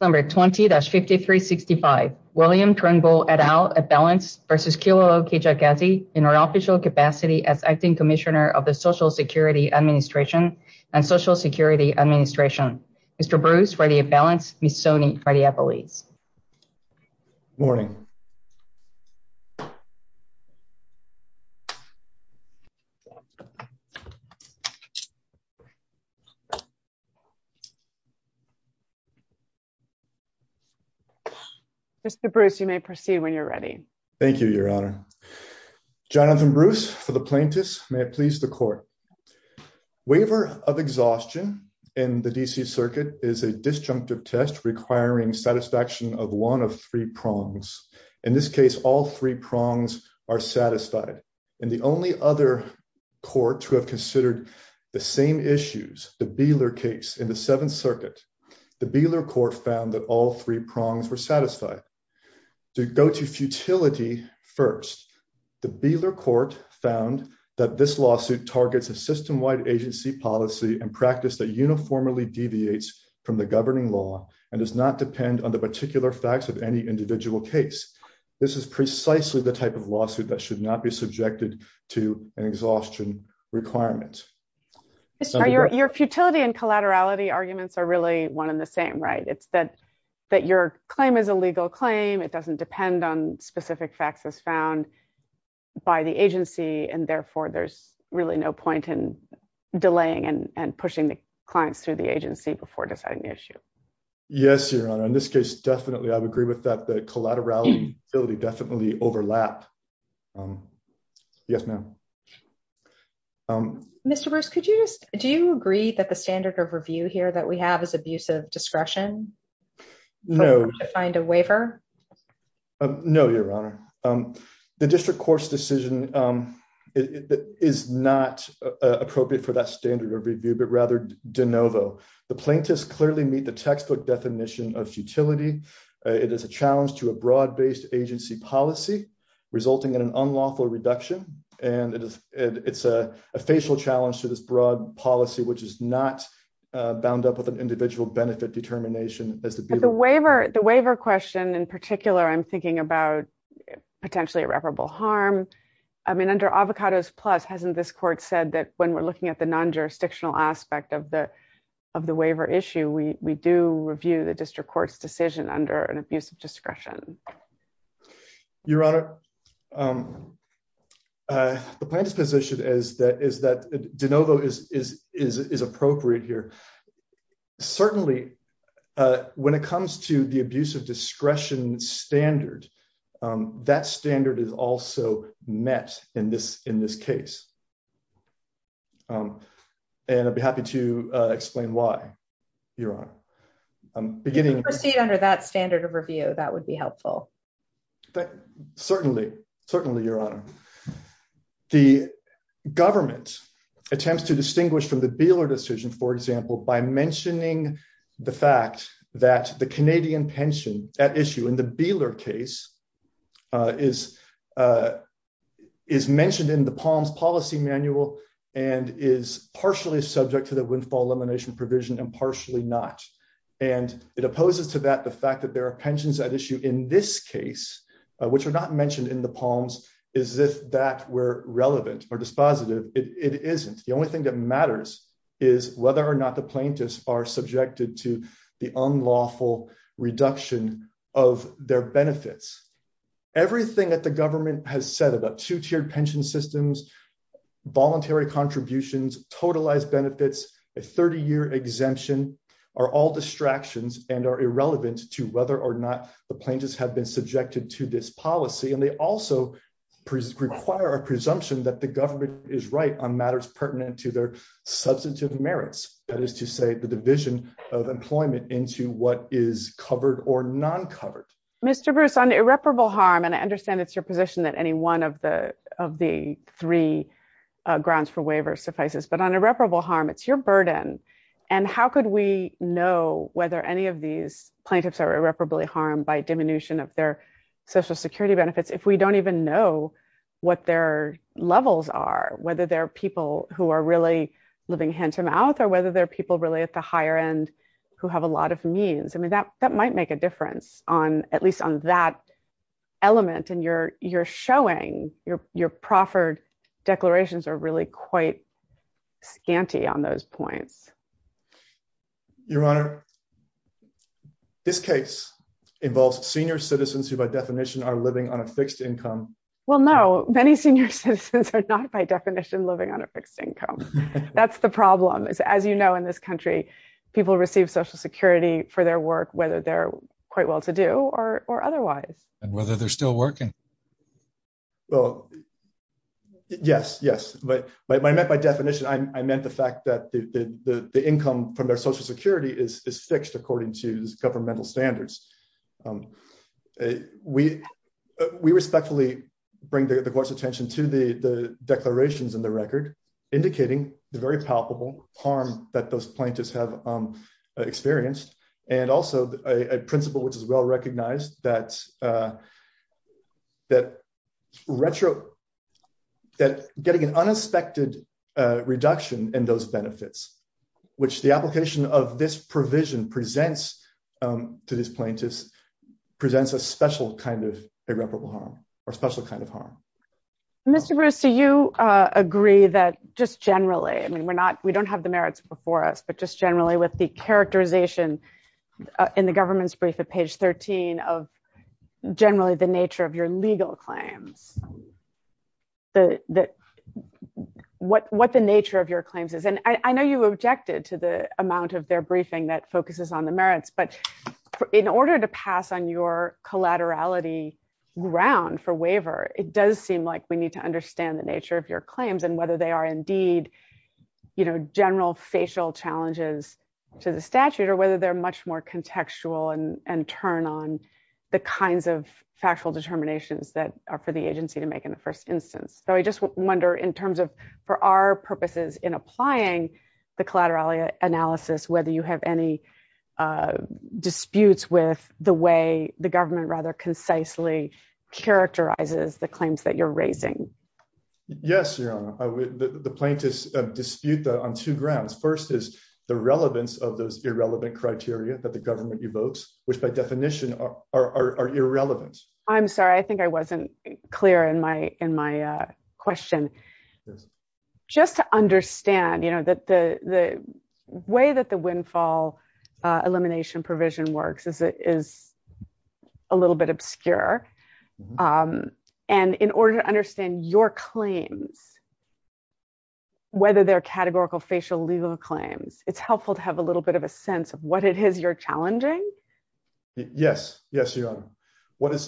Number 20-5365 William Turnbull et al. at balance versus Kilolo Kejagazi in our official capacity as acting commissioner of the Social Security Administration and Social Security Administration. Mr. Bruce ready at balance, Ms. Soni ready at police. Morning. Mr. Bruce, you may proceed when you're ready. Thank you, Your Honor. Jonathan Bruce for the plaintiffs. May it please the court. Waiver of exhaustion in the D.C. Circuit is a disjunctive test requiring satisfaction of one of three prongs. In this case, all three prongs are satisfied and the only other court to have considered the same issues, the Beeler case in the Seventh Circuit. The Beeler court found that all three prongs were satisfied to go to futility. First, the Beeler court found that this lawsuit targets a system wide agency policy and practice that uniformly deviates from the governing law and does not depend on the particular facts of any individual case. This is precisely the type of lawsuit that should not be subjected to an exhaustion requirement. Your futility and collaterality arguments are really one in the same, right? It's that that your claim is a legal claim. It doesn't depend on specific facts as found by the agency, and therefore there's really no point in delaying and pushing the clients through the agency before deciding the issue. Yes, Your Honor. In this case, definitely. I would agree with that. The collateral utility would definitely overlap. Yes, ma'am. Mr. Bruce, could you just do you agree that the standard of review here that we have is abusive discretion? No. Find a waiver? No, Your Honor. The district court's decision is not appropriate for that standard of review, but rather de novo. The plaintiffs clearly meet the textbook definition of futility. It is a challenge to a broad-based agency policy resulting in an unlawful reduction, and it's a facial challenge to this broad policy, which is not bound up with an individual benefit determination as the waiver. The waiver question in particular, I'm thinking about potentially irreparable harm. I mean, under Avocados Plus, hasn't this court said that when we're looking at the non-jurisdictional aspect of the waiver issue, we do review the district court's decision under an abusive discretion? Your Honor, the plaintiff's position is that de novo is appropriate here. Certainly, when it comes to the abusive discretion standard, that standard is also met in this case. And I'd be happy to explain why, Your Honor. If we proceed under that standard of review, that would be helpful. Certainly. Certainly, Your Honor. The government attempts to distinguish from the Beeler decision, for example, by mentioning the fact that the Canadian pension at issue in the Beeler case is mentioned in the Palm's policy manual and is partially subject to the windfall provision and partially not. And it opposes to that the fact that there are pensions at issue in this case, which are not mentioned in the Palm's, as if that were relevant or dispositive. It isn't. The only thing that matters is whether or not the plaintiffs are subjected to the unlawful reduction of their benefits. Everything that the government has said about two-tiered pension systems, voluntary contributions, totalized benefits, a 30-year exemption, are all distractions and are irrelevant to whether or not the plaintiffs have been subjected to this policy. And they also require a presumption that the government is right on matters pertinent to their substantive merits. That is to say, the division of employment into what is covered or non-covered. Mr. Bruce, on irreparable harm, and I understand it's your that any one of the three grounds for waiver suffices, but on irreparable harm, it's your burden. And how could we know whether any of these plaintiffs are irreparably harmed by diminution of their social security benefits if we don't even know what their levels are, whether they're people who are really living hand-to-mouth or whether they're people really at the higher end who have a lot of means? I mean, that might make a difference, at least on that and you're showing your proffered declarations are really quite scanty on those points. Your Honor, this case involves senior citizens who by definition are living on a fixed income. Well, no, many senior citizens are not by definition living on a fixed income. That's the problem is, as you know, in this country, people receive social security for whether they're quite well-to-do or otherwise. And whether they're still working. Well, yes, yes. But by definition, I meant the fact that the income from their social security is fixed according to governmental standards. We respectfully bring the Court's attention to the declarations in the record indicating the very palpable harm that those plaintiffs have experienced and also a principle which is well recognized that getting an unexpected reduction in those benefits, which the application of this provision presents to these plaintiffs, presents a special kind of irreparable harm or special kind of harm. Mr. Brewster, you agree that just generally, I mean, we don't have the merits before us, but just generally with the characterization in the government's brief at page 13 of generally the nature of your legal claims, what the nature of your claims is. And I know you objected to the amount of their briefing that focuses on the merits, but in order to pass on your collaterality ground for waiver, it does seem like we need to understand the nature of your claims and whether they are indeed general facial challenges to the statute or whether they're much more contextual and turn on the kinds of factual determinations that are for the agency to make in the first instance. So I just wonder in terms of for our purposes in applying the collaterality analysis, whether you have any disputes with the way the government rather the plaintiffs dispute that on two grounds. First is the relevance of those irrelevant criteria that the government evokes, which by definition are irrelevant. I'm sorry, I think I wasn't clear in my question. Just to understand that the way that the windfall elimination provision works is a little bit obscure. And in order to understand your claims, whether they're categorical facial legal claims, it's helpful to have a little bit of a sense of what it is you're challenging. Yes, yes, you are.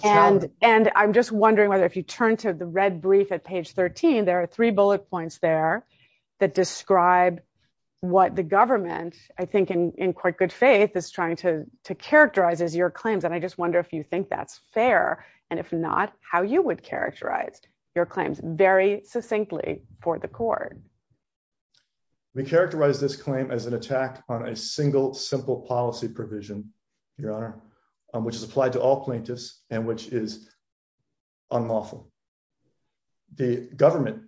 And I'm just wondering whether if you turn to the red brief at page 13, there are three bullet points there that describe what the government, I think in quite good faith, is trying to characterize as your claims. And I just wonder if you think that's fair, and if not, how you would characterize your claims very succinctly for the court. We characterize this claim as an attack on a single simple policy provision, Your Honor, which is applied to all plaintiffs and which is unlawful. The government,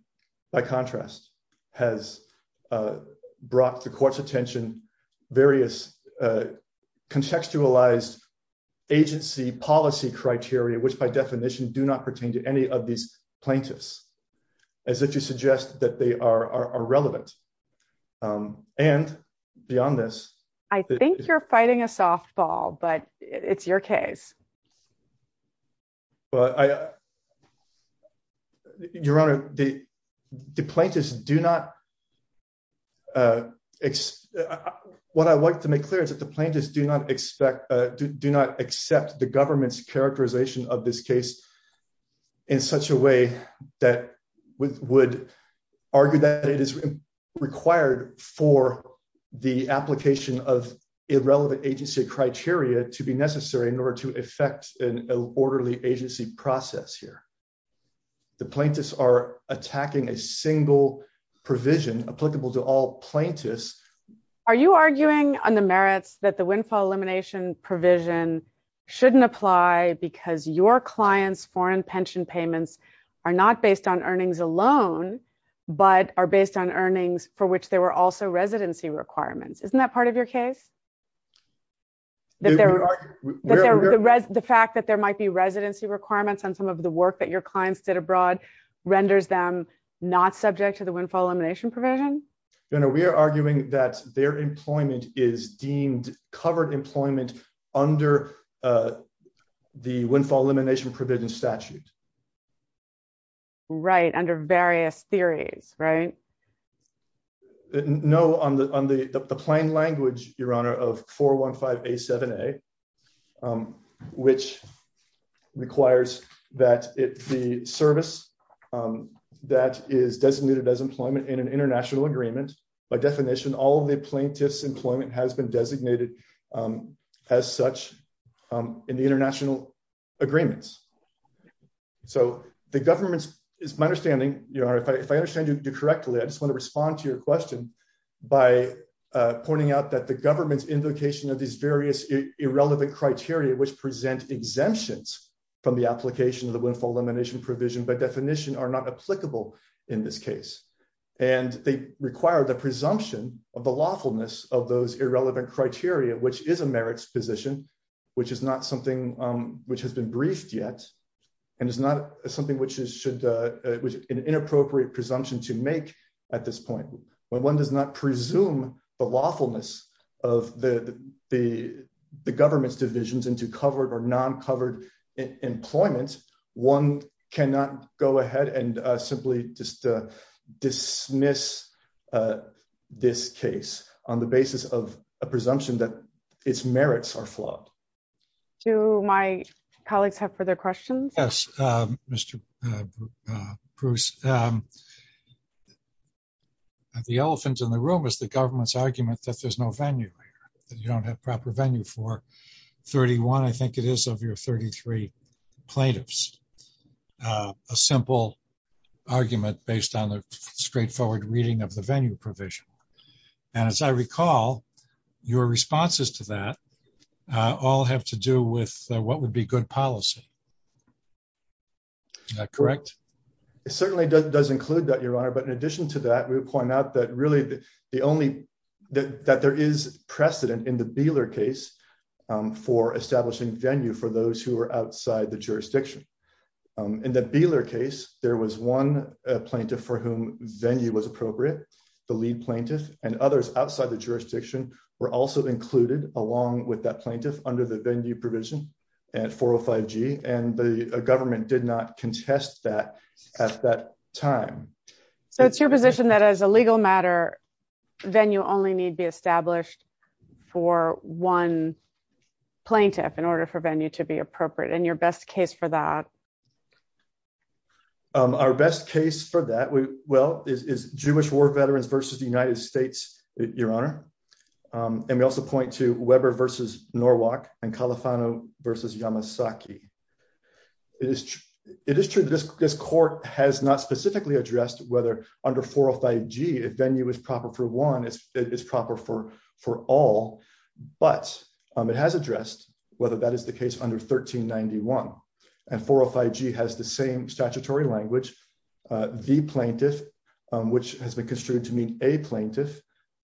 by contrast, has brought the court's attention various contextualized agency policy criteria, which by definition do not pertain to any of these plaintiffs, as if you suggest that they are relevant. And beyond this, I think you're fighting a softball, but it's your case. But Your Honor, the plaintiffs do not, what I would like to make clear is that the plaintiffs do not expect, do not accept the government's characterization of this case in such a way that would argue that it is required for the application of irrelevant agency criteria to be necessary in order to effect an orderly agency process here. The plaintiffs are attacking a single provision applicable to all plaintiffs. Are you arguing on the merits that the windfall elimination provision shouldn't apply because your client's foreign pension payments are not based on earnings alone, but are based on earnings for which there were also residency requirements? Isn't that part of your case? The fact that there might be residency requirements on some of the work that your clients did abroad renders them not subject to the windfall elimination provision? Your Honor, we are arguing that their employment is deemed covered employment under the windfall elimination provision statute. Right, under various theories, right? No, on the plain language, Your Honor, of 415A7A, which requires that the service that is designated as employment in an international agreement, by definition, all of the plaintiff's employment has been designated as such in the international agreements. So the government's, it's my understanding, Your Honor, if I understand you correctly, I just want to respond to your question by pointing out that the government's invocation of these various irrelevant criteria which present exemptions from the application of the windfall elimination provision by definition are not applicable in this case. And they require the presumption of the lawfulness of those irrelevant criteria, which is a merits position, which is not something which has been briefed yet, and is not something which is an inappropriate presumption to make at this point. When one does not presume the lawfulness of the government's divisions into covered or non-covered employment, one cannot go ahead and simply just dismiss this case on the basis of a presumption that its merits are flawed. Do my colleagues have further questions? Yes, Mr. Bruce. The elephant in the room is the government's argument that there's no venue here, that you don't have proper venue for 31, I think it is, of your 33 plaintiffs. A simple argument based on the straightforward reading of the venue provision. And as I recall, your responses to that all have to do with what would be good policy. Is that correct? It certainly does include that, Your Honor. But in addition to that, we would point out that really the only, that there is precedent in the Beeler case for establishing venue for those who are outside the jurisdiction. In the Beeler case, there was one plaintiff for whom venue was appropriate. The lead plaintiff and others outside the jurisdiction were also included along with that plaintiff under the venue provision at 405G, and the government did not contest that at that time. So it's your position that as a legal matter, venue only need be established for one plaintiff. What's the best case for that? Our best case for that, well, is Jewish War Veterans versus the United States, Your Honor. And we also point to Weber versus Norwalk and Califano versus Yamasaki. It is true that this court has not specifically addressed whether under 405G, if venue is proper for one, it's proper for all. But it has addressed whether that is the case under 1391. And 405G has the same statutory language, the plaintiff, which has been construed to mean a plaintiff,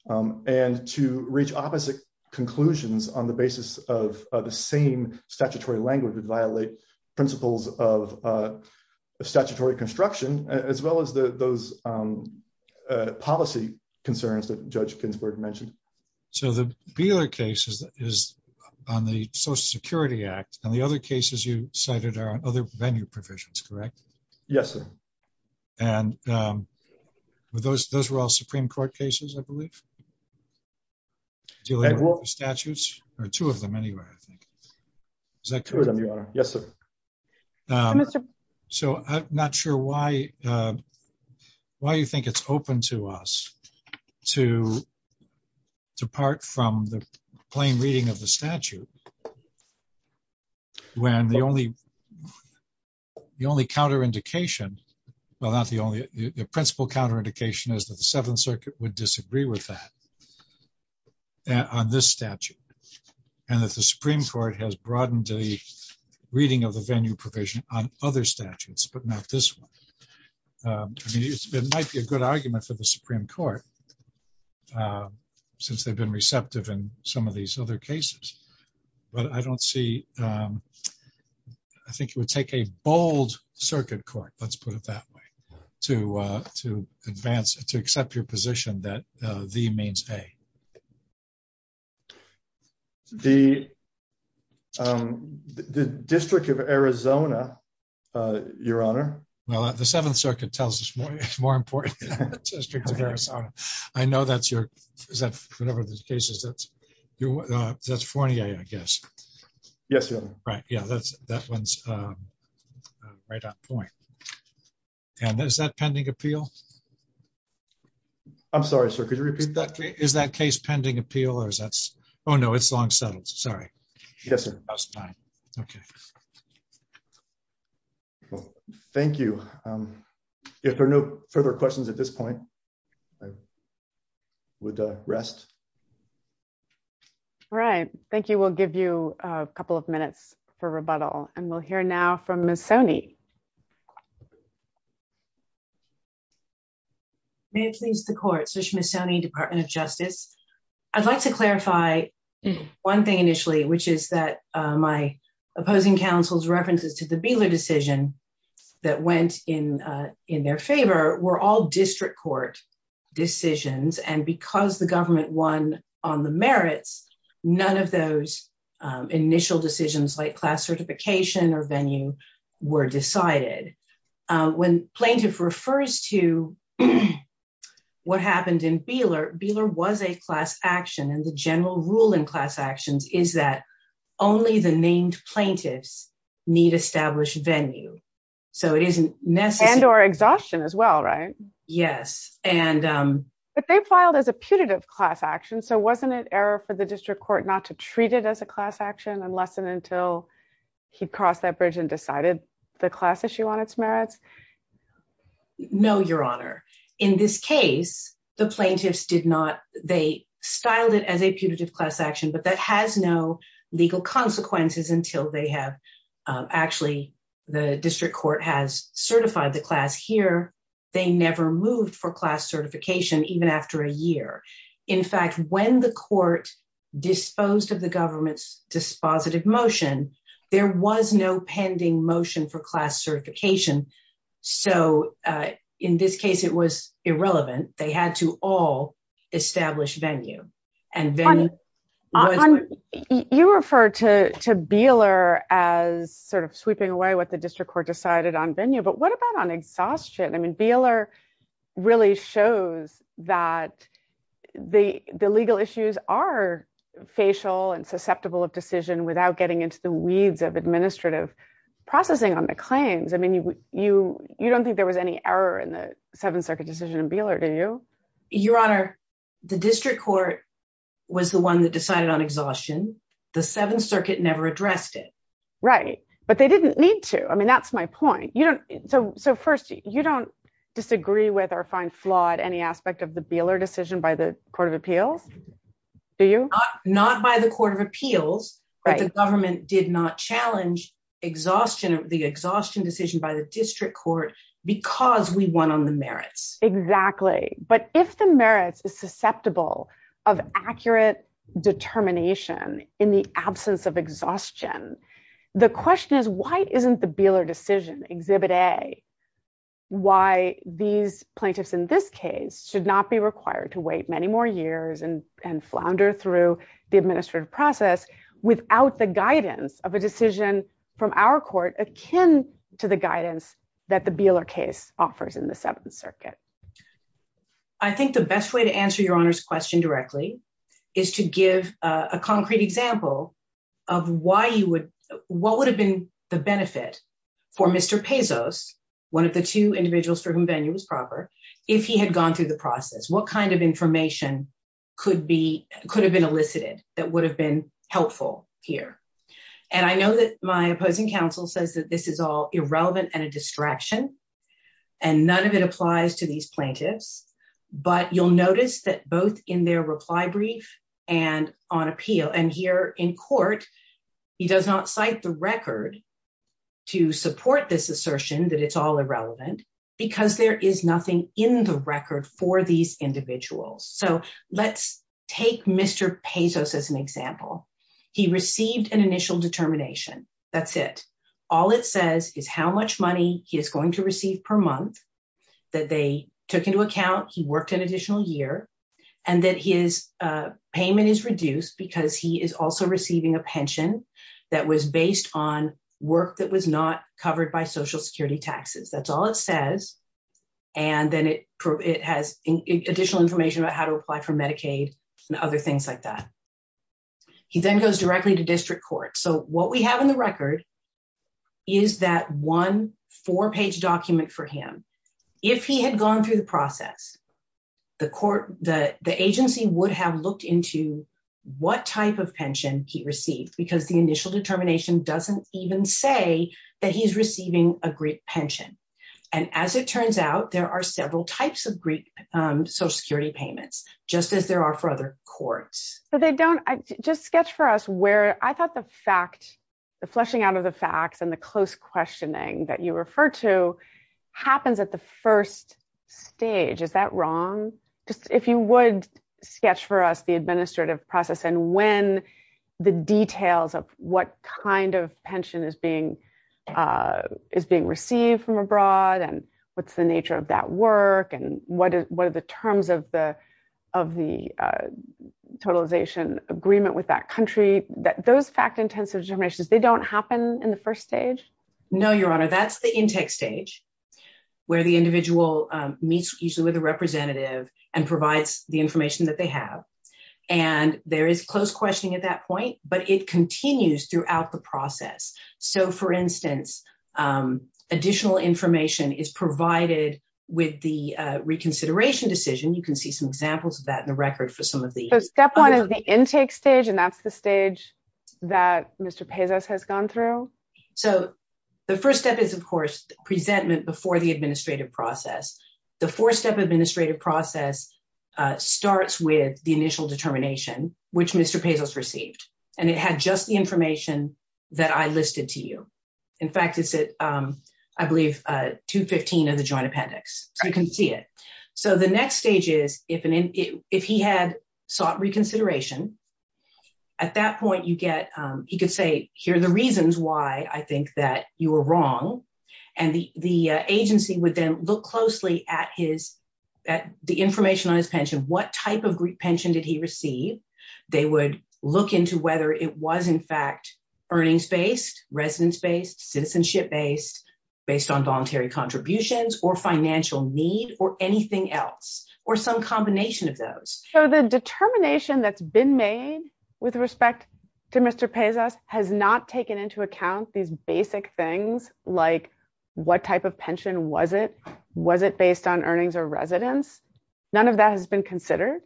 and to reach opposite conclusions on the basis of the same statutory language would violate principles of statutory construction, as well as those policy concerns that Judge Ginsburg mentioned. So the Beeler case is on the Social Security Act. And the other cases you cited are on other venue provisions, correct? Yes, sir. And those were all Supreme Court cases, I believe? Statutes? Or two of them anyway, I think. Two of them, Your Honor. Yes, sir. So I'm not sure why you think it's open to us to depart from the plain reading of the statute when the only counterindication, well, not the only, the principal counterindication is that the Seventh Circuit would disagree with that on this statute. And that the Supreme Court has broadened the reading of the venue provision on other statutes, but not this one. It might be a good argument for the Supreme Court, since they've been receptive in some of these other cases. But I don't see, I think it would take a bold circuit court, let's put it that way, to advance, to accept your position that the means a. The District of Arizona, Your Honor. Well, the Seventh Circuit tells us more, District of Arizona. I know that's your, is that, whatever the case is, that's Fournier, I guess. Yes, Your Honor. Right, yeah, that one's right on point. And is that pending appeal? I'm sorry, sir, could you repeat that? Is that case pending appeal or is that, oh no, it's long settled, sorry. Yes, sir. Okay. Well, thank you. If there are no further questions at this point, I would rest. All right, thank you. We'll give you a couple of minutes for rebuttal and we'll hear now from Missoni. May it please the Court, Susan Missoni, Department of Justice. I'd like to clarify one thing initially, which is that my opposing counsel's references to the Beeler decision that went in their favor were all district court decisions. And because the government won on the merits, none of those initial decisions like class certification or venue were decided. When plaintiff refers to what happened in Beeler, Beeler was a class action and the general rule in class actions is that only the named plaintiffs need established venue. So it isn't necessary. And or exhaustion as well, right? Yes, and. But they filed as a putative class action, so wasn't it error for the district court not to treat it as a class action unless and until he crossed that bridge and decided the class issue on its merits? No, Your Honor. In this case, the plaintiffs did not. They styled it as a putative class action, but that has no legal consequences until they have actually the district court has certified the class here. They never moved for class certification even after a year. In fact, when the court disposed of the government's dispositive motion, there was no pending motion for class certification. So in this case, it was irrelevant. They had to all establish venue and venue. You refer to Beeler as sort of sweeping away what the district court decided on venue. But what about on exhaustion? I mean, Beeler really shows that the legal issues are facial and susceptible of decision without getting into the weeds of administrative processing on the claims. I mean, you don't think there was any error in the Seventh Circuit decision in Beeler, do you? Your Honor, the district court was the one that decided on exhaustion. The Seventh Circuit never addressed it. Right. But they didn't need to. I mean, that's my point. So first, you don't disagree with or find flawed any aspect of the Beeler decision by the Court of Appeals, do you? Not by the Court of Appeals, but the government did not challenge the exhaustion decision by the district court because we won on the merits. Exactly. But if the merits is susceptible of accurate determination in the absence of exhaustion, the question is, why isn't the Beeler decision, Exhibit A, why these plaintiffs in this case should not be required to wait many more years and flounder through the administrative process without the guidance of a decision from our court akin to the guidance that the Beeler case offers in the Seventh Circuit? I think the best way to answer Your Honor's question directly is to give a concrete example of why you would, what would have been the benefit for Mr. Pezos, one of the two individuals for whom venue was proper, if he had gone through the process. What kind of information could have been elicited that would have been helpful here? And I know that my opposing counsel says that this is all irrelevant and a distraction and none of it applies to these plaintiffs, but you'll notice that both in their reply brief and on appeal and here in court, he does not cite the record to support this assertion that it's all irrelevant because there is nothing in the record for these individuals. So let's take Mr. Pezos as an example. He received an initial determination. That's it. All it says is how much money he is going to receive per month that they took into account. He worked an additional year and that his payment is reduced because he is also receiving a pension that was based on work that was not covered by social security taxes. That's all it says. And then it has additional information about how to apply for Medicaid and other things like that. He then goes directly to district court. So what we have in the record is that one four page document for him. If he had gone through the process, the agency would have looked into what type of pension he received because the initial determination doesn't even say that he's receiving a Greek pension. And as it turns out, there are courts. But they don't just sketch for us where I thought the fact the fleshing out of the facts and the close questioning that you refer to happens at the first stage. Is that wrong? Just if you would sketch for us the administrative process and when the details of what kind of pension is being is being received from abroad and what's the nature of that work and what is the terms of the of the totalization agreement with that country that those fact intensive determinations, they don't happen in the first stage. No, your honor. That's the intake stage where the individual meets usually with a representative and provides the information that they have. And there is close questioning at that point, but it continues throughout the decision. You can see some examples of that in the record for some of the step one of the intake stage. And that's the stage that Mr. Pezos has gone through. So the first step is, of course, presentment before the administrative process. The four step administrative process starts with the initial determination, which Mr. Pezos received. And it had just the information that I listed to you. In fact, is it, I believe, 215 of the joint appendix. You can see it. So the next stage is if an if he had sought reconsideration at that point, you get he could say, here are the reasons why I think that you were wrong. And the agency would then look closely at his at the information on his pension. What type of pension did he receive? They would look into whether it was, in fact, earnings based, residence based, citizenship based, based on contributions or financial need or anything else or some combination of those. So the determination that's been made with respect to Mr. Pezos has not taken into account these basic things like what type of pension was it? Was it based on earnings or residence? None of that has been considered.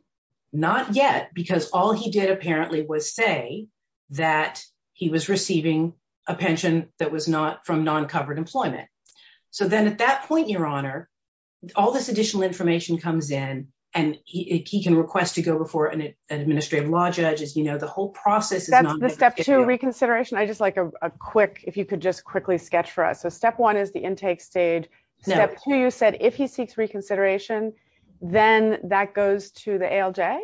Not yet, because all he did apparently was say that he was receiving a pension that was not from non-covered employment. So then at that point, your honor, all this additional information comes in and he can request to go before an administrative law judge. As you know, the whole process is not the step to reconsideration. I just like a quick if you could just quickly sketch for us. So step one is the intake stage. Step two, you said if he seeks reconsideration, then that goes to the ALJ.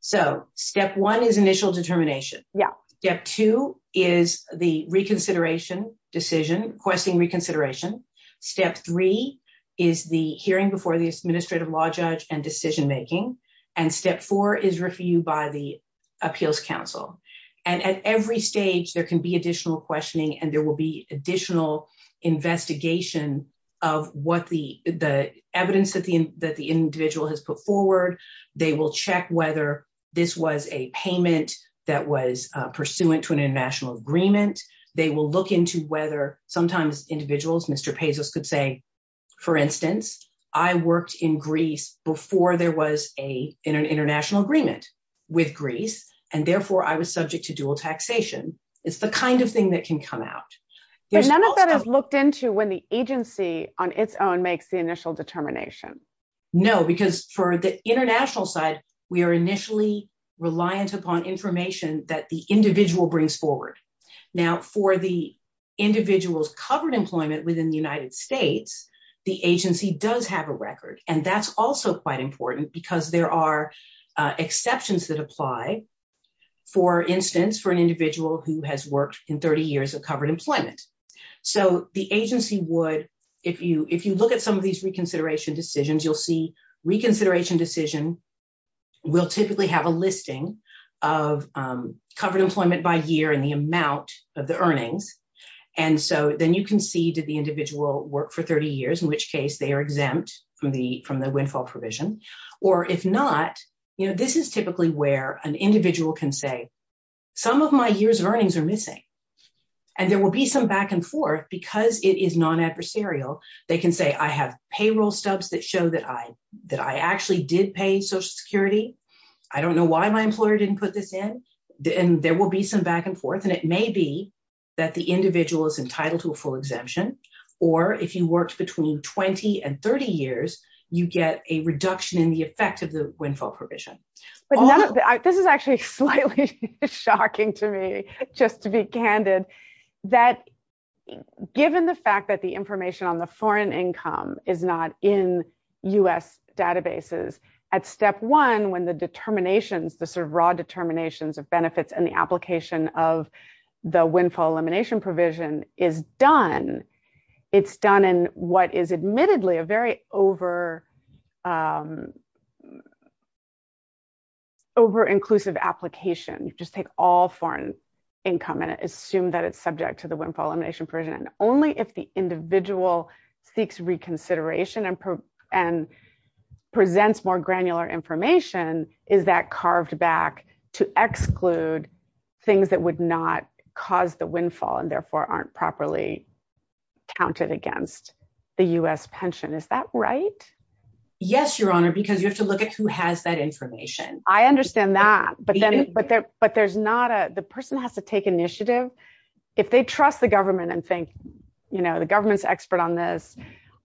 So step one is initial determination. Yeah. Step two is the reconsideration decision, requesting reconsideration. Step three is the hearing before the administrative law judge and decision making. And step four is reviewed by the appeals counsel. And at every stage, there can be additional questioning and there will be additional investigation of what the evidence that the individual has put forward. They will check whether this was a payment that was pursuant to an international agreement. They will look into whether sometimes individuals, Mr. Pezos could say, for instance, I worked in Greece before there was an international agreement with Greece, and therefore I was subject to dual taxation. It's the kind of thing that can come out. But none of that is looked into when the agency on its own makes the initial determination. No, because for the international side, we are initially reliant upon information that the individual brings forward. Now, for the individuals covered employment within the United States, the agency does have a record. And that's also quite important because there are exceptions that apply, for instance, for an individual who has worked in 30 years of covered employment. So the agency would, if you look at some of these reconsideration decisions, you'll see reconsideration decision will typically have a listing of covered employment by year and the amount of the earnings. And so then you can see, did the individual work for 30 years, in which they are exempt from the windfall provision. Or if not, this is typically where an individual can say, some of my years of earnings are missing. And there will be some back and forth because it is non-adversarial. They can say, I have payroll stubs that show that I actually did pay Social Security. I don't know why my employer didn't put this in. And there will be some back and forth. And it may be that the individual is entitled to a full exemption. Or if you worked between 20 and 30 years, you get a reduction in the effect of the windfall provision. This is actually slightly shocking to me, just to be candid, that given the fact that the information on the foreign income is not in US databases, at step one, when the determinations, the sort of raw determinations of benefits and the application of the windfall elimination provision is done, it's done in what is admittedly a very over-inclusive application. You just take all foreign income and assume that it's subject to the windfall elimination provision. And only if the individual seeks reconsideration and presents more granular information is that carved back to exclude things that would not cause the windfall and therefore aren't properly counted against the US pension. Is that right? Yes, Your Honor, because you have to look at who has that information. I understand that. But then, but there, but there's not a, the person has to take initiative. If they trust the government and think, you know, the government's expert on this.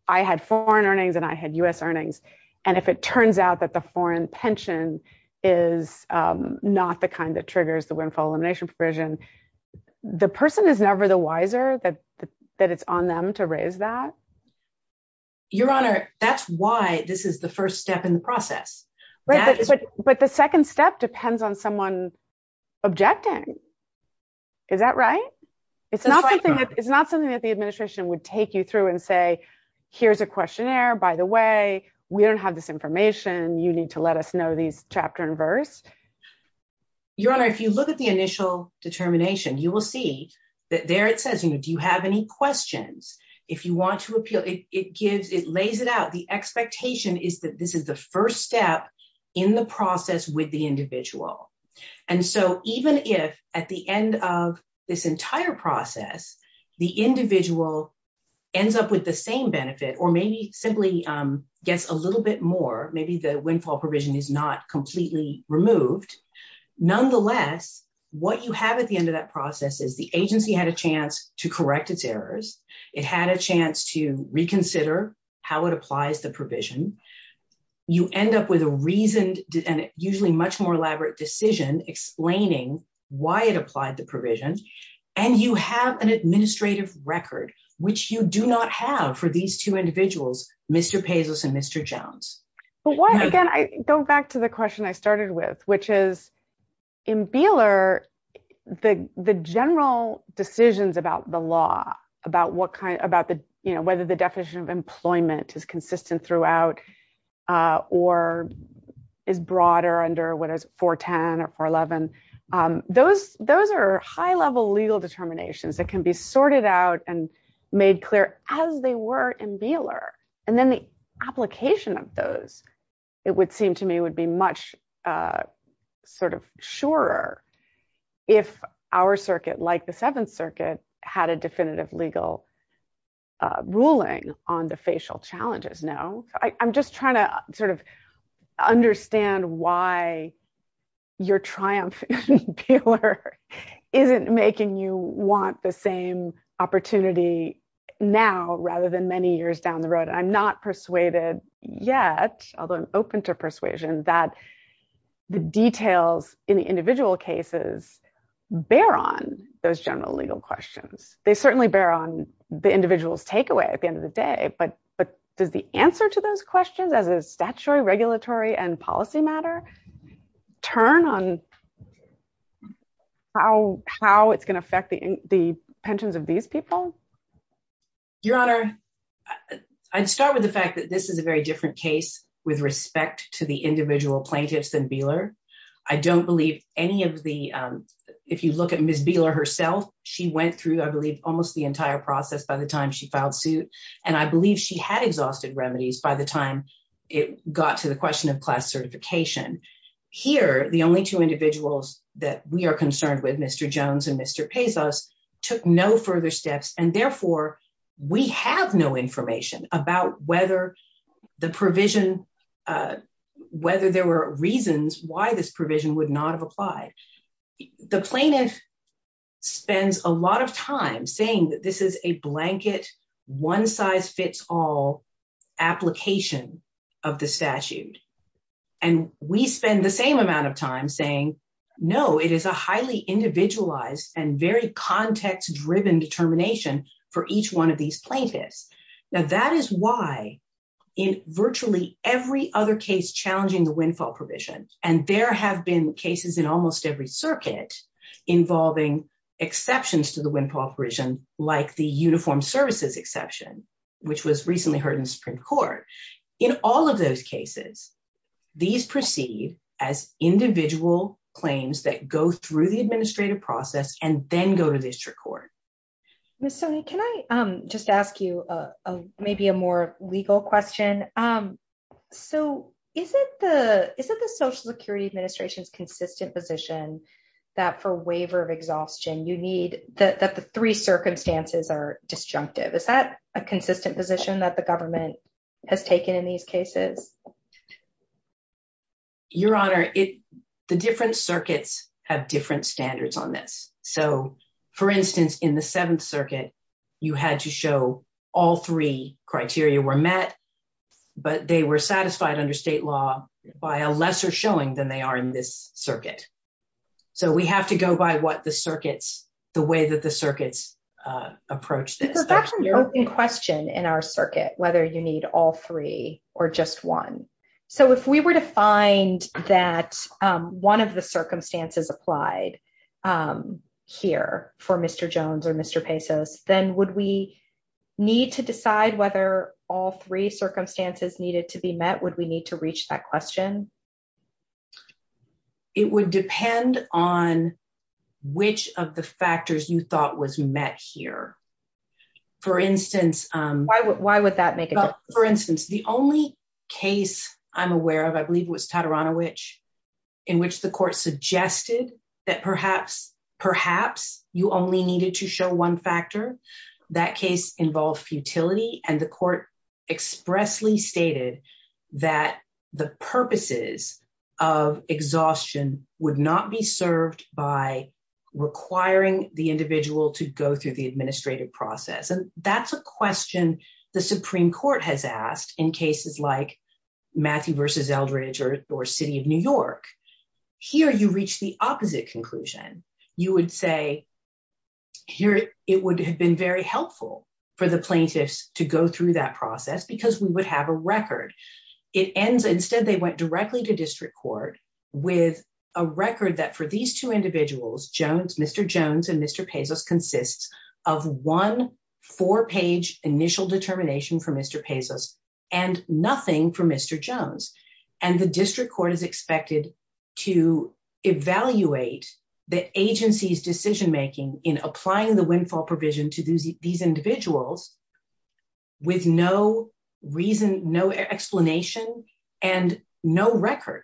I had foreign earnings and I had US earnings. And if it turns out that the foreign pension is not the kind that triggers the windfall elimination provision, the person is never the wiser that it's on them to raise that. Your Honor, that's why this is the first step in the process. But the second step depends on someone objecting. Is that right? It's not something that the administration would take you through and say, here's a questionnaire, by the way, we don't have this information. You need to let us know these chapter and verse. Your Honor, if you look at the initial determination, you will see that there, it says, you know, do you have any questions? If you want to appeal, it gives, it lays it out. The expectation is that this is the first step in the process with the individual. And so even if at the end of this entire process, the individual ends up with the same benefit, or maybe simply gets a little bit more, maybe the windfall provision is not completely removed. Nonetheless, what you have at the end of that process is the agency had a chance to correct its errors. It had a chance to reconsider how it applies the provision. You end up with a reason and usually much more elaborate decision explaining why it applied the provision. And you have an administrative record, which you do not have for these two individuals, Mr. Pazos and Mr. Jones. But why, again, I go back to the question I started with, which is in Beeler, the general decisions about the law, about what kind, about the, you know, is consistent throughout or is broader under what is 410 or 411. Those are high level legal determinations that can be sorted out and made clear as they were in Beeler. And then the application of those, it would seem to me, would be much sort of surer if our circuit, like the Seventh Circuit, had a definitive legal ruling on the facial challenges. No, I'm just trying to sort of understand why your triumph in Beeler isn't making you want the same opportunity now rather than many years down the road. I'm not persuaded yet, although I'm open to persuasion, that the details in the individual cases bear on those general legal questions. They certainly bear on the individual's takeaway at the end of the day. But does the answer to those questions as a statutory, regulatory, and policy matter turn on how it's going to affect the pensions of these people? Your Honor, I'd start with the fact that this is a very different case with respect to the individual plaintiffs than Beeler. I don't believe any of the, if you look at Ms. Beeler herself, she went through, I believe, almost the entire process by the time she filed suit. And I believe she had exhausted remedies by the time it got to the question of class certification. Here, the only two individuals that we are concerned with, Mr. Jones and Mr. took no further steps. And therefore, we have no information about whether the provision, whether there were reasons why this provision would not have applied. The plaintiff spends a lot of time saying that this is a blanket, one-size-fits-all application of the statute. And we spend the same amount of time saying, no, it is a highly individualized and very context-driven determination for each one of these plaintiffs. Now, that is why in virtually every other case challenging the windfall provision, and there have been cases in almost every circuit involving exceptions to the windfall provision, like the uniform services exception, which was recently heard in the Supreme Court. In all of those cases, these proceed as individual claims that go through the administrative process and then go to district court. Ms. Stoney, can I just ask you maybe a more legal question? So, is it the Social Security Administration's consistent position that for waiver of exhaustion, you need, that the three position that the government has taken in these cases? Your Honor, the different circuits have different standards on this. So, for instance, in the Seventh Circuit, you had to show all three criteria were met, but they were satisfied under state law by a lesser showing than they are in this circuit. So, we have to go by what the circuits, the way that the circuits approach this. But that's an open question in our circuit, whether you need all three or just one. So, if we were to find that one of the circumstances applied here for Mr. Jones or Mr. Pesos, then would we need to decide whether all three circumstances needed to be met? Would we need to reach that question? It would depend on which of the factors you thought was met here. For instance, Why would that make a difference? For instance, the only case I'm aware of, I believe it was Tataranovich, in which the court suggested that perhaps, perhaps you only needed to show one factor. That case involved futility and the court expressly stated that the purposes of exhaustion would not be served by requiring the individual to go through the administrative process. And that's a question the Supreme Court has asked in cases like Matthew versus Eldridge or City of New York. Here, you reach the opposite conclusion. You would say, here, it would have been very helpful for the plaintiffs to go through that process because we would have a record. Instead, they went directly to district court with a record that for these two individuals, Mr. Jones and Mr. Pesos, consists of one four-page initial determination from Mr. Pesos and nothing from Mr. Jones. And the district court is expected to evaluate the agency's decision-making in applying the windfall provision to these individuals with no reason, no explanation, and no record.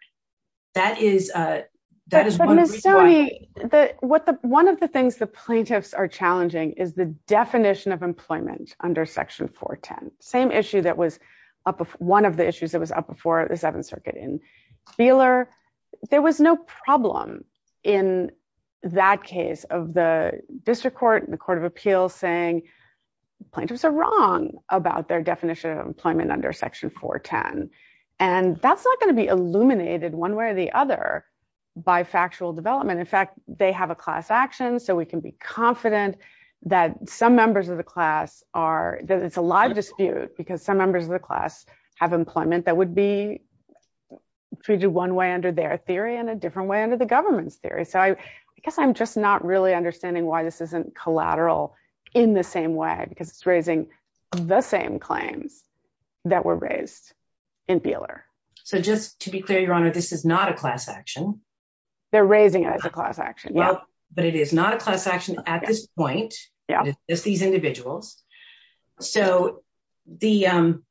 That is, uh, that is... But Ms. Stoney, the, what the, one of the things the plaintiffs are challenging is the definition of employment under Section 410. Same issue that was up, one of the issues that was up before the Seventh Circuit in Cleeler. There was no problem in that case of the district court and the court of appeals saying plaintiffs are wrong about their definition of employment under Section 410. And that's not going to be illuminated one way or the other by factual development. In fact, they have a class action so we can be confident that some members of the class are, that it's a live dispute because some members of the class have employment that would be treated one way under their theory and a different way under the government's theory. So I guess I'm just really understanding why this isn't collateral in the same way because it's raising the same claims that were raised in Beeler. So just to be clear, Your Honor, this is not a class action. They're raising it as a class action, yeah. But it is not a class action at this point. Yeah. It's these individuals. So the, um,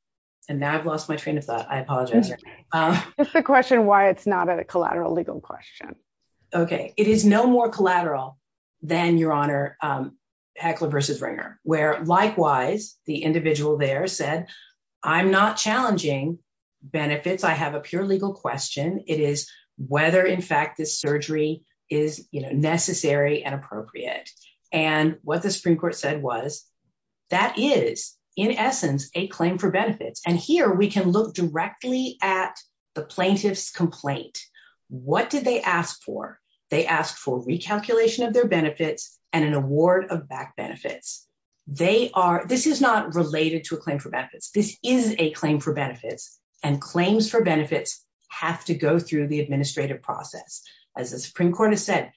and now I've lost my train of thought. I apologize. It's the question why it's not a collateral legal question. Okay. It is no more collateral than, Your Honor, um, Heckler versus Ringer, where likewise, the individual there said, I'm not challenging benefits. I have a pure legal question. It is whether in fact this surgery is, you know, necessary and appropriate. And what the Supreme Court said was that is in essence a claim for benefits. And here we can look directly at the plaintiff's complaint. What did they ask for? They asked for recalculation of their benefits and an award of back benefits. They are, this is not related to a claim for benefits. This is a claim for benefits and claims for benefits have to go through the administrative process. As the Supreme Court has said,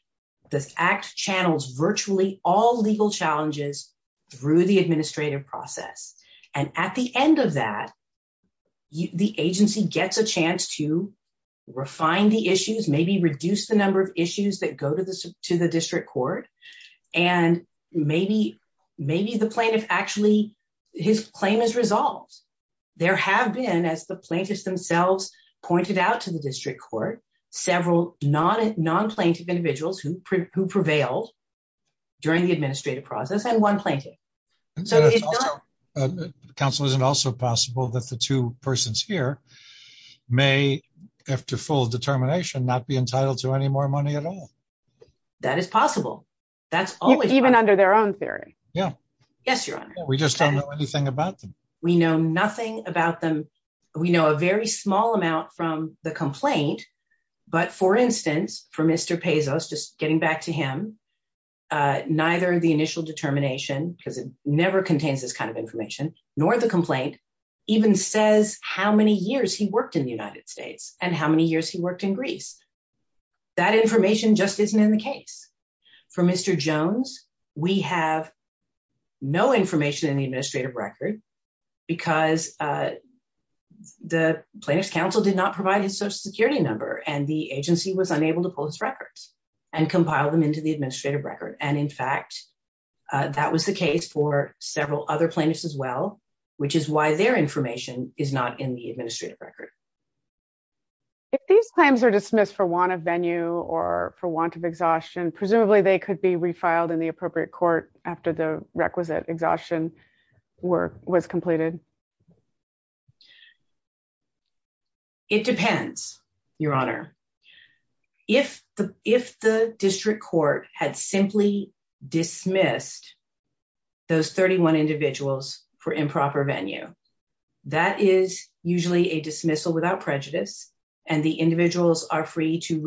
this act channels virtually all legal challenges through the administrative process. And at the end of that, the agency gets a chance to refine the issues, maybe reduce the number of issues that go to the, to the district court. And maybe, maybe the plaintiff actually, his claim is resolved. There have been, as the plaintiffs themselves pointed out to the district court, several non, non plaintiff individuals who prevailed during the administrative process and one plaintiff. Counsel, isn't also possible that the two persons here may after full determination, not be entitled to any more money at all. That is possible. That's even under their own theory. Yeah. Yes, your honor. We just don't know anything about them. We know nothing about them. We know a very small amount from the complaint, but for instance, for Mr. Pezos, just getting back to him neither the initial determination, because it never contains this kind of information nor the complaint even says how many years he worked in the United States and how many years he worked in Greece. That information just isn't in the case for Mr. Jones. We have no information in the administrative record because the plaintiff's counsel did not provide his social security number and the agency was unable to post records and compile them into the administrative record. And in fact, that was the case for several other plaintiffs as well, which is why their information is not in the administrative record. If these claims are dismissed for want of venue or for want of exhaustion, presumably they could be refiled in the appropriate court after the requisite exhaustion work was completed. It depends, your honor. If the district court had simply dismissed those 31 individuals for improper venue, that is usually a dismissal without prejudice and the individuals are free to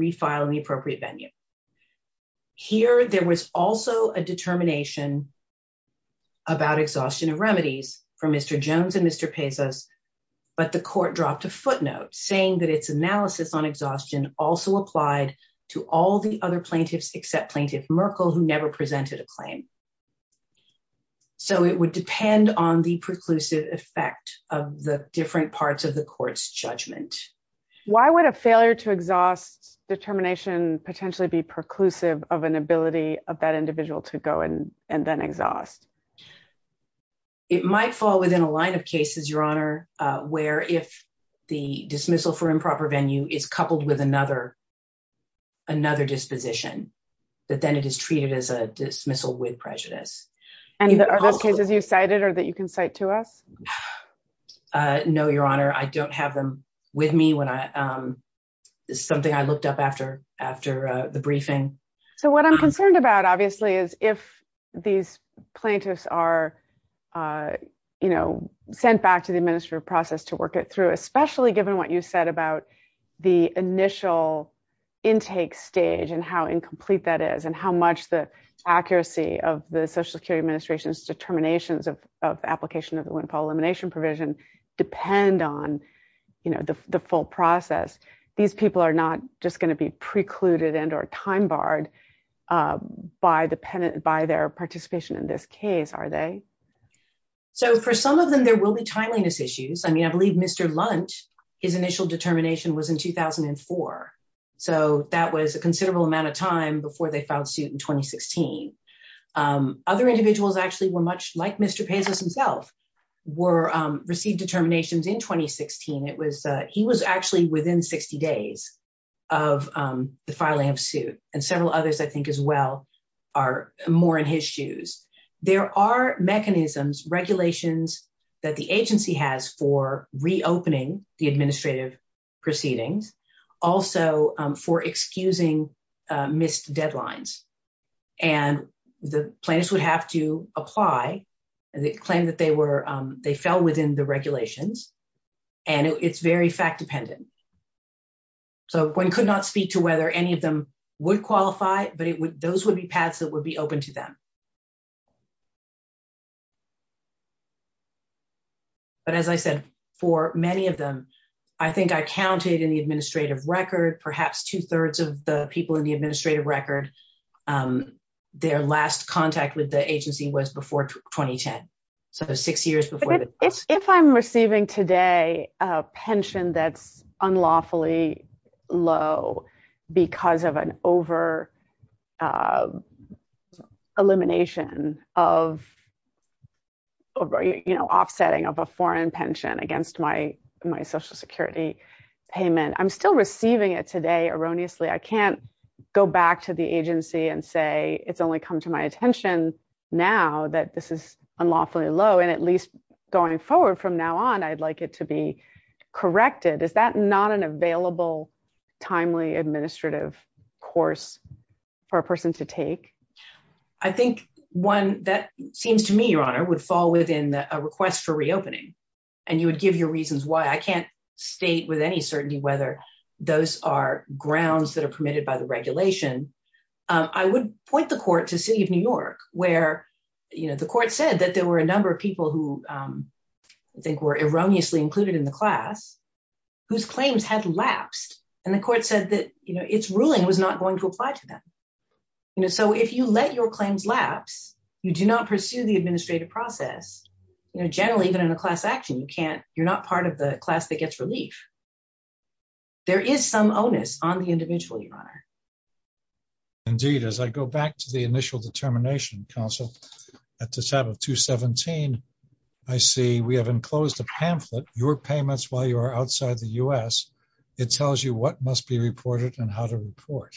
hear. There was also a determination about exhaustion of remedies for Mr. Jones and Mr. Pezos, but the court dropped a footnote saying that its analysis on exhaustion also applied to all the other plaintiffs except plaintiff Merkel, who never presented a claim. So it would depend on the preclusive effect of the different parts of the court's judgment. Why would a failure to exhaust determination potentially be preclusive of an ability of that individual to go in and then exhaust? It might fall within a line of cases, your honor, where if the dismissal for improper venue is coupled with another disposition, that then it is treated as a dismissal with prejudice. And are those cases you cited or that you can cite to us? Uh, no, your honor. I don't have them with me when I, um, something I looked up after, after the briefing. So what I'm concerned about, obviously, is if these plaintiffs are, uh, you know, sent back to the administrative process to work it through, especially given what you said about the initial intake stage and how incomplete that is and how much the accuracy of the Social Security Administration's determinations of, of application of the windfall elimination provision depend on, you know, the, the full process. These people are not just going to be precluded and or time barred, uh, by dependent, by their participation in this case, are they? So for some of them, there will be timeliness issues. I mean, I believe Mr. Lunt, his initial determination was in 2004. So that was a considerable amount of time before they actually were much like Mr. Pezos himself, were, um, received determinations in 2016. It was, uh, he was actually within 60 days of, um, the filing of suit and several others, I think as well, are more in his shoes. There are mechanisms, regulations that the agency has for reopening the administrative proceedings, also, um, for excusing, uh, missed deadlines. And the plaintiffs would have to apply and they claim that they were, um, they fell within the regulations and it's very fact dependent. So one could not speak to whether any of them would qualify, but it would, those would be paths that would be open to them. But as I said, for many of them, I think I counted in the administrative record, perhaps two thirds of the people in the administrative record, um, their last contact with the agency was before 2010. So six years before that. If I'm receiving today a pension that's unlawfully low because of an over, uh, elimination of, you know, offsetting of a foreign pension against my, my social security payment, I'm still receiving it today erroneously. I can't go back to the agency and say, it's only come to my attention now that this is unlawfully low. And at least going forward from now on, I'd like it to be corrected. Is that not an available, timely administrative course for a person to take? I think one that seems to me, would fall within a request for reopening. And you would give your reasons why I can't state with any certainty, whether those are grounds that are permitted by the regulation. I would point the court to city of New York where, you know, the court said that there were a number of people who, um, I think were erroneously included in the class whose claims had lapsed. And the court said that, you know, its ruling was not going to apply to them. You know, so if you let your claims lapse, you do not pursue the administrative process. You know, generally even in a class action, you can't, you're not part of the class that gets relief. There is some onus on the individual, your honor. Indeed. As I go back to the initial determination council at the top of two 17, I see we have enclosed a pamphlet, your payments while you are outside the U S it tells you what must be reported and how to report.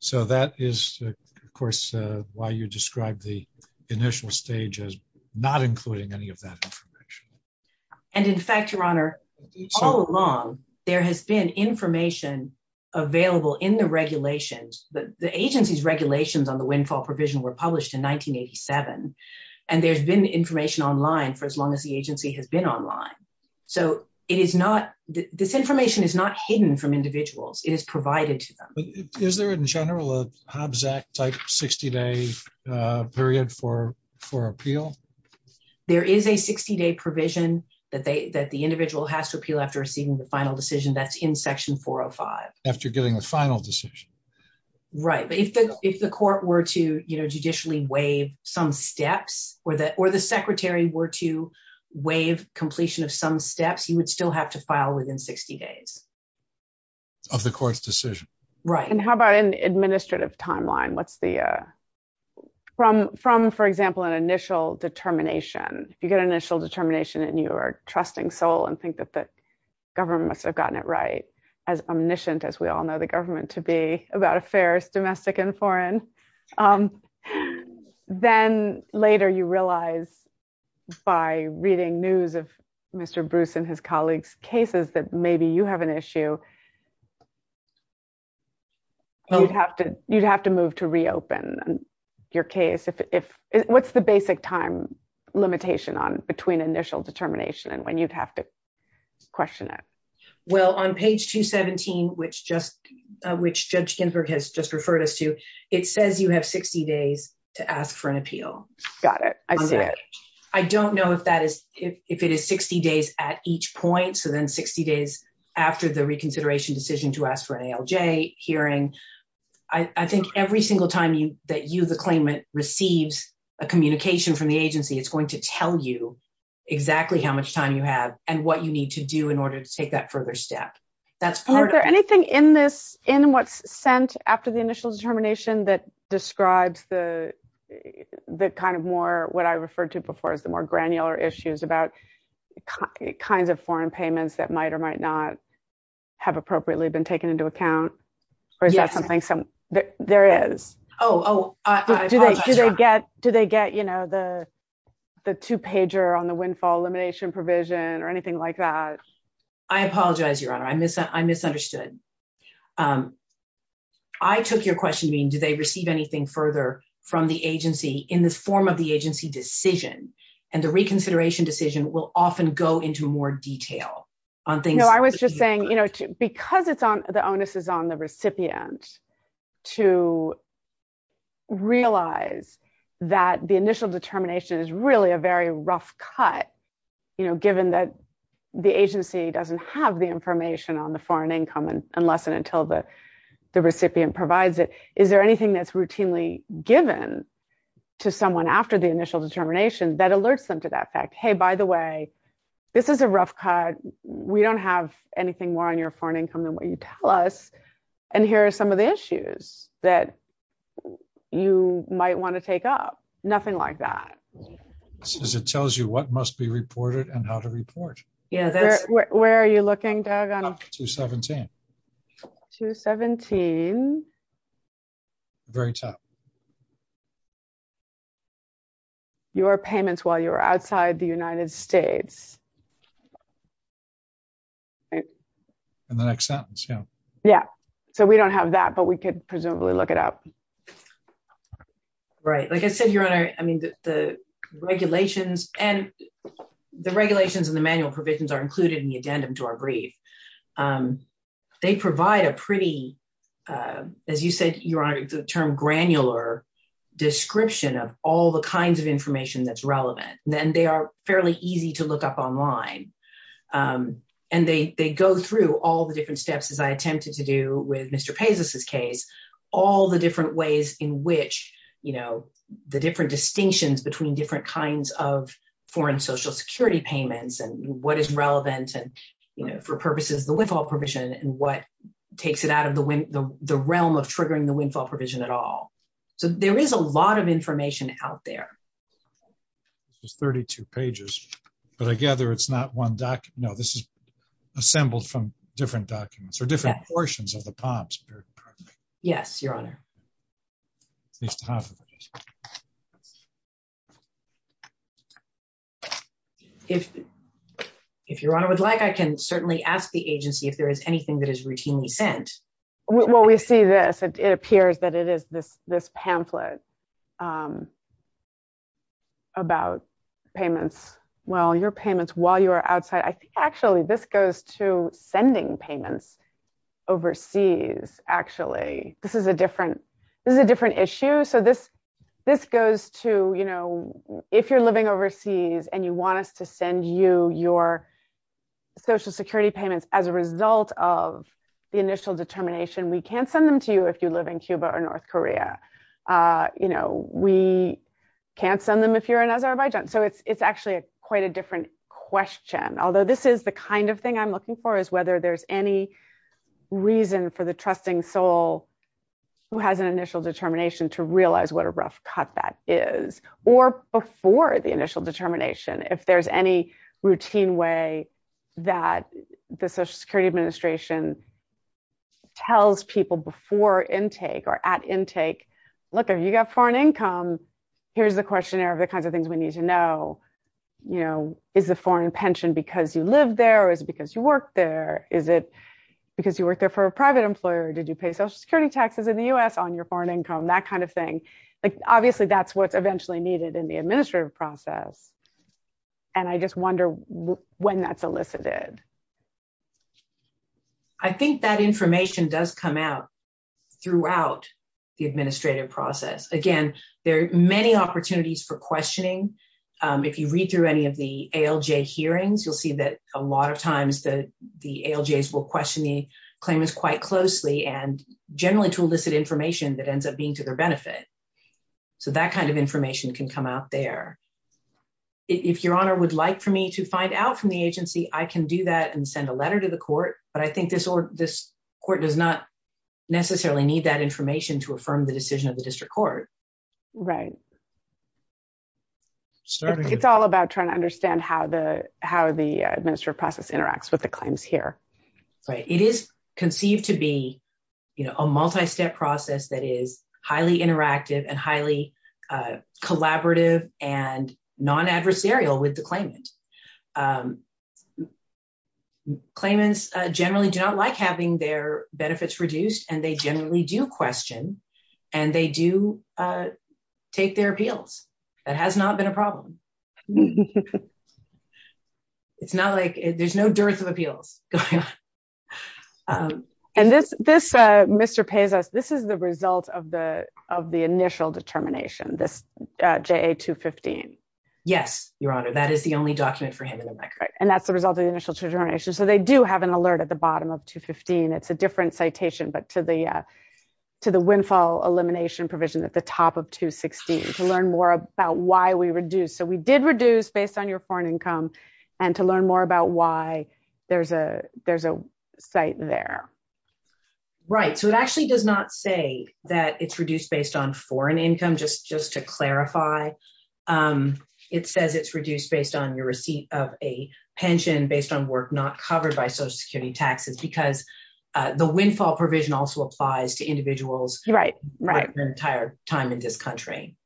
So that is of course, uh, why you described the initial stage as not including any of that information. And in fact, your honor all along, there has been information available in the regulations, but the agency's regulations on the windfall provision were published in 1987. And there's been information online for as long as the agency has been online. So it is not, this information is not hidden from individuals. It is provided to them. Is there in general, a Hobbs act type 60 day, uh, period for, for appeal? There is a 60 day provision that they, that the individual has to appeal after receiving the final decision that's in section four or five after getting the final decision. Right. But if the, if the court were to, you know, judicially waive some steps or that, or the secretary were to waive completion of some steps, you would still have to file within 60 days of the court's decision. Right. And how about an administrative timeline? What's the, uh, from, from, for example, an initial determination, if you get an initial determination and you are trusting soul and think that the government must have gotten it right, as omniscient as we all know the government to be about affairs, domestic and foreign. Um, then later you realize by reading news of Mr. Bruce and his colleagues' cases that maybe you have an issue. Well, you'd have to, you'd have to move to reopen your case. If, if what's the basic time limitation on between initial determination and when you'd have to question it. Well, on page two 17, which just, uh, which judge Ginsburg has just referred us to, it says you have 60 days to ask for an appeal. Got it. I see it. I don't know if that is, if it is 60 days at each point. So then 60 days after the reconsideration decision to ask for an ALJ hearing, I think every single time you, that you, the claimant receives a communication from the agency, it's going to tell you exactly how much time you have and what you need to do in order to take that further step. That's part of, is there anything in this, in what's sent after the initial determination that describes the, the kind of more, what I referred to before as the more kinds of foreign payments that might or might not have appropriately been taken into account or is that something some there is, Oh, do they, do they get, do they get, you know, the, the two pager on the windfall elimination provision or anything like that? I apologize, your honor. I miss that. I misunderstood. Um, I took your question being, do they receive anything further from the agency in the form of the agency decision and the reconsideration decision will often go into more detail on things. No, I was just saying, you know, because it's on the onus is on the recipient to realize that the initial determination is really a very rough cut, you know, given that the agency doesn't have the information on the foreign income and unless and until the recipient provides it, is there anything that's routinely given to someone after the initial determination that alerts them to that fact? Hey, by the way, this is a rough cut. We don't have anything more on your foreign income than what you tell us. And here are some of the issues that you might want to take up. Nothing like that. It tells you what must be reported and how to report. Yeah. Where are you looking, Doug? 217. 217. Very tough. Your payments while you're outside the United States. In the next sentence. Yeah. Yeah. So we don't have that, but we could presumably look it up. Right. Like I said, your honor, I mean, the regulations and the regulations and the manual provisions are included in the addendum to our brief. They provide a pretty, as you said, your honor, the term granular description of all the kinds of information that's relevant. Then they are fairly easy to look up online. And they go through all the different steps, as I attempted to do with Mr. Pezos's case, all the different ways in which, you know, the different distinctions between different kinds of foreign social security payments and what is relevant and, you know, for purposes of the windfall provision and what takes it out of the realm of triggering the windfall provision at all. So there is a lot of information out there. This is 32 pages, but I gather it's not one doc. No, this is assembled from different documents or different portions of the POMS. Yes, your honor. If your honor would like, I can certainly ask the agency if there is anything that is routinely sent. Well, we see this, it appears that it is this pamphlet about payments, well, your payments while you are outside. I think actually this goes to sending payments overseas. Actually, this is a different issue. So this goes to, if you're living overseas and you want us to send you your social security payments as a result of the initial determination, we can't send them to you if you live in Cuba or North Korea. We can't send them if you're in Azerbaijan. So it's actually quite a different question. Although this is the kind of thing I'm looking for is whether there's any reason for the trusting soul who has an initial determination to realize what a rough cut that is, or before the initial determination, if there's any routine way that the social security administration tells people before intake or at intake, look, if you've got foreign income, here's the questionnaire of the kinds of things we need to know. Is the foreign pension because you live there or is it because you work there? Is it because you worked there for a private employer? Did you pay social security taxes in the US on your foreign income? That kind of thing. Obviously that's what's eventually needed in the administrative process. And I just wonder when that's elicited. I think that information does come out throughout the administrative process. Again, there are many opportunities for questioning. If you read through any of the ALJ hearings, you'll see that a lot of times the ALJs will question the claimants quite closely and generally to elicit information that ends up being to their benefit. So that kind of information can come out there. If your honor would like for me to find out from the agency, I can do that and send a letter to the court, but I think this court does not necessarily need that information to affirm the decision of the district court. Right. It's all about trying to understand how the administrative process interacts with the claims here. Right. It is conceived to be a multi-step process that is highly interactive and highly collaborative and non-adversarial with the claimant. Claimants generally do not like having their benefits reduced and they generally do question and they do take their appeals. That has not been a problem. It's not like there's no dearth of appeals going on. And this, Mr. Pazos, this is the result of the initial determination, this JA 215. Yes, your honor. That is the only document for him in the record. And that's the result of the initial determination. So they do have an alert at the bottom of 215. It's a different citation, but to the windfall elimination provision at the top of 216, to learn more about why we reduced. So we did reduce based on your foreign income and to learn more about why there's a site there. Right. So it actually does not say that it's reduced based on foreign income, just to clarify. It says it's reduced based on your receipt of a pension based on work not covered by Social Security taxes, because the windfall provision also applies to individuals. Right. Right. The entire time in this country.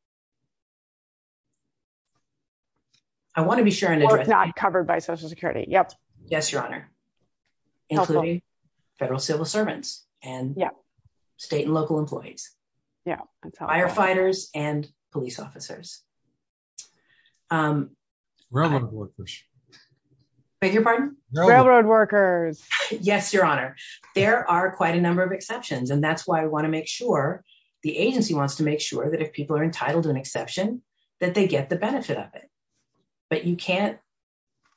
I want to be sure and address. Work not covered by Social Security. Yep. Yes, your honor. Including federal civil servants and state and local employees. Yeah. Firefighters and police officers. Railroad workers. Beg your pardon? Railroad workers. Yes, your honor. There are quite a number of exceptions, and that's why I want to make sure the agency wants to make sure that if people are entitled to an exception, that they get the benefit of it. But you can't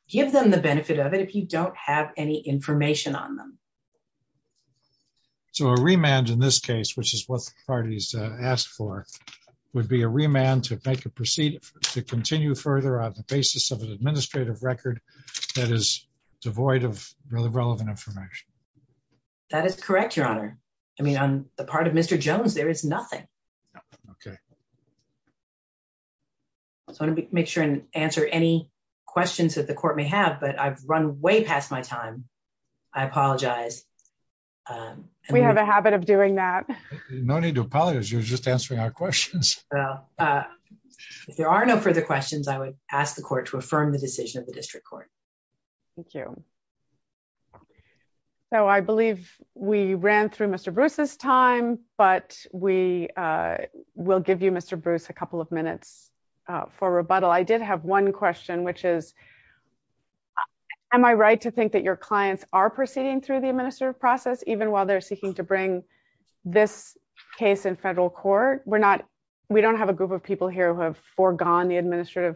give them the benefit of it if you don't have any information on them. So a remand in this case, which is what the parties asked for, would be a remand to make a administrative record that is devoid of relevant information. That is correct, your honor. I mean, on the part of Mr. Jones, there is nothing. Okay. I just want to make sure and answer any questions that the court may have, but I've run way past my time. I apologize. We have a habit of doing that. No need to apologize. You're just answering our questions. Well, if there are no further questions, I would ask the court to affirm the decision of the district court. Thank you. So I believe we ran through Mr. Bruce's time, but we will give you, Mr. Bruce, a couple of minutes for rebuttal. I did have one question, which is, am I right to think that your clients are proceeding through the administrative process, even while they're seeking to bring this case in federal court? We don't have a group of people here who have foregone the administrative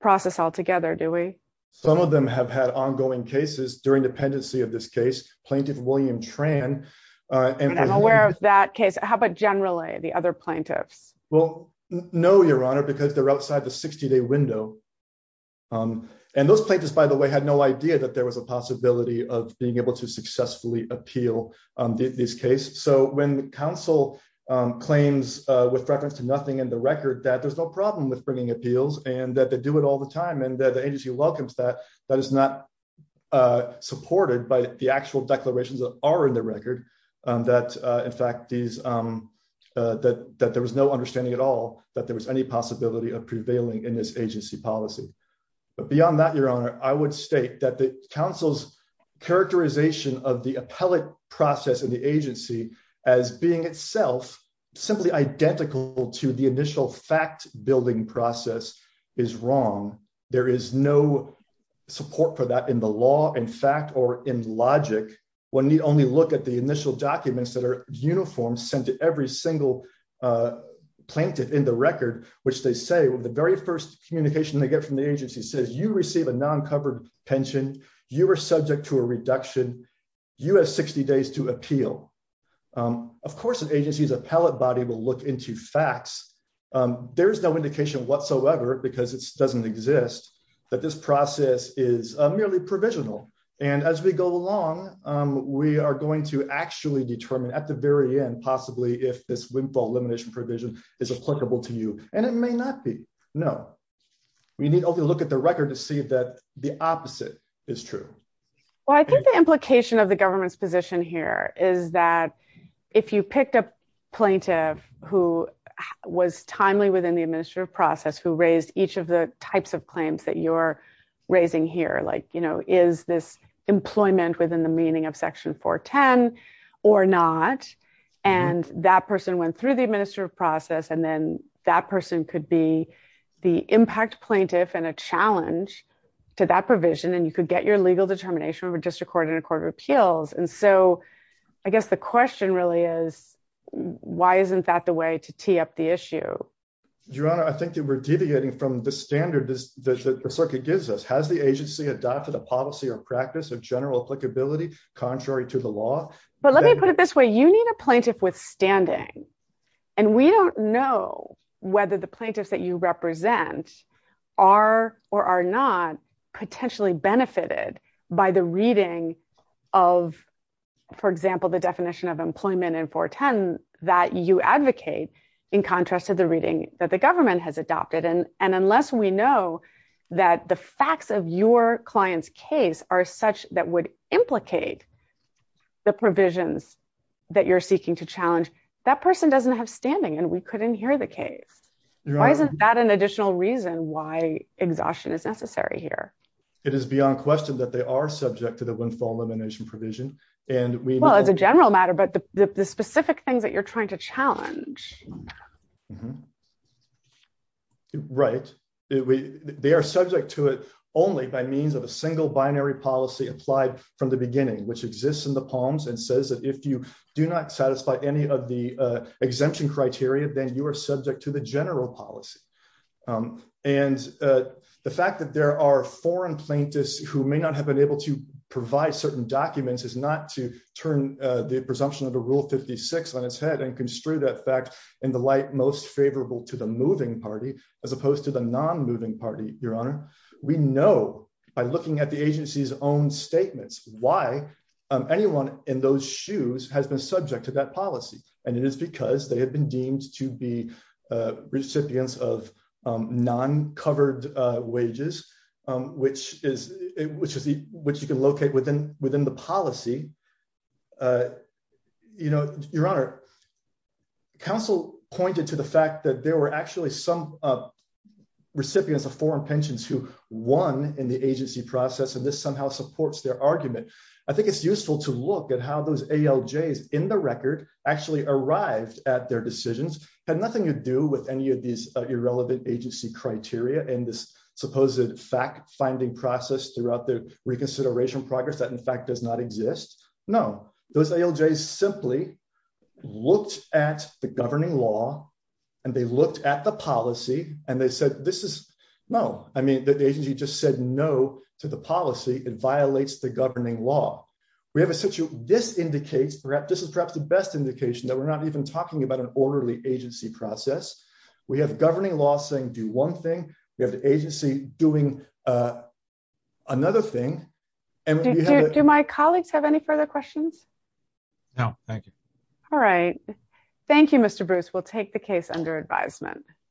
process altogether, do we? Some of them have had ongoing cases during dependency of this case, plaintiff William Tran. I'm aware of that case. How about generally the other plaintiffs? Well, no, your honor, because they're outside the 60-day window. And those plaintiffs, by the way, had no idea that there was a possibility of being able to with reference to nothing in the record, that there's no problem with bringing appeals and that they do it all the time. And the agency welcomes that, that is not supported by the actual declarations that are in the record, that in fact, that there was no understanding at all, that there was any possibility of prevailing in this agency policy. But beyond that, your honor, I would state that the council's characterization of the to the initial fact building process is wrong. There is no support for that in the law, in fact, or in logic. One need only look at the initial documents that are uniform sent to every single plaintiff in the record, which they say, well, the very first communication they get from the agency says you receive a non-covered pension. You were subject to a reduction. You have 60 days to appeal. Of course, an agency's appellate body will look into facts. There's no indication whatsoever, because it doesn't exist, that this process is merely provisional. And as we go along, we are going to actually determine at the very end, possibly if this windfall elimination provision is applicable to you. And it may not be. No. We need only look at the record to see that the opposite is true. Well, I think the implication of the if you picked a plaintiff who was timely within the administrative process, who raised each of the types of claims that you're raising here, like, you know, is this employment within the meaning of Section 410 or not? And that person went through the administrative process. And then that person could be the impact plaintiff and a challenge to that provision. And you could get legal determination of a district court and a court of appeals. And so I guess the question really is, why isn't that the way to tee up the issue? Your Honor, I think that we're deviating from the standard that the circuit gives us. Has the agency adopted a policy or practice of general applicability contrary to the law? But let me put it this way. You need a plaintiff withstanding. And we don't know whether the plaintiffs that you represent are or are not potentially benefited by the reading of, for example, the definition of employment in 410 that you advocate in contrast to the reading that the government has adopted. And unless we know that the facts of your client's case are such that would implicate the provisions that you're seeking to challenge, that person doesn't have standing. And we couldn't hear the case. Why isn't that an additional reason why exhaustion is necessary here? It is beyond question that they are subject to the windfall elimination provision. And well, as a general matter, but the specific things that you're trying to challenge. Right. They are subject to it only by means of a single binary policy applied from the beginning, which exists in the palms and says that if you do not satisfy any of the exemption criteria, then you are subject to the general policy. And the fact that there are foreign plaintiffs who may not have been able to provide certain documents is not to turn the presumption of the rule 56 on its head and construe that fact in the light most favorable to the moving party, as opposed to the non moving party. Your Honor, we know by looking at the agency's own statements, why anyone in those shoes has been subject to that policy. And it is because they have been deemed to be recipients of non-covered wages, which you can locate within the policy. Your Honor, counsel pointed to the fact that there were actually some recipients of foreign pensions who won in the agency process. And this somehow supports their argument. I think it's useful to look at how those ALJs in the record actually arrived at their decisions had nothing to do with any of these irrelevant agency criteria and this supposed fact finding process throughout the reconsideration progress that in fact does not exist. No, those ALJs simply looked at the governing law and they looked at the policy and they said, this is no, I mean, the agency just said no to the policy, it violates the governing law. We have a situation, this indicates, this is perhaps the best indication that we're not even talking about an orderly agency process. We have governing law saying do one thing, we have the agency doing another thing. Do my colleagues have any further questions? No, thank you. All right. Thank you, Mr. Bruce. We'll take the case under advisement.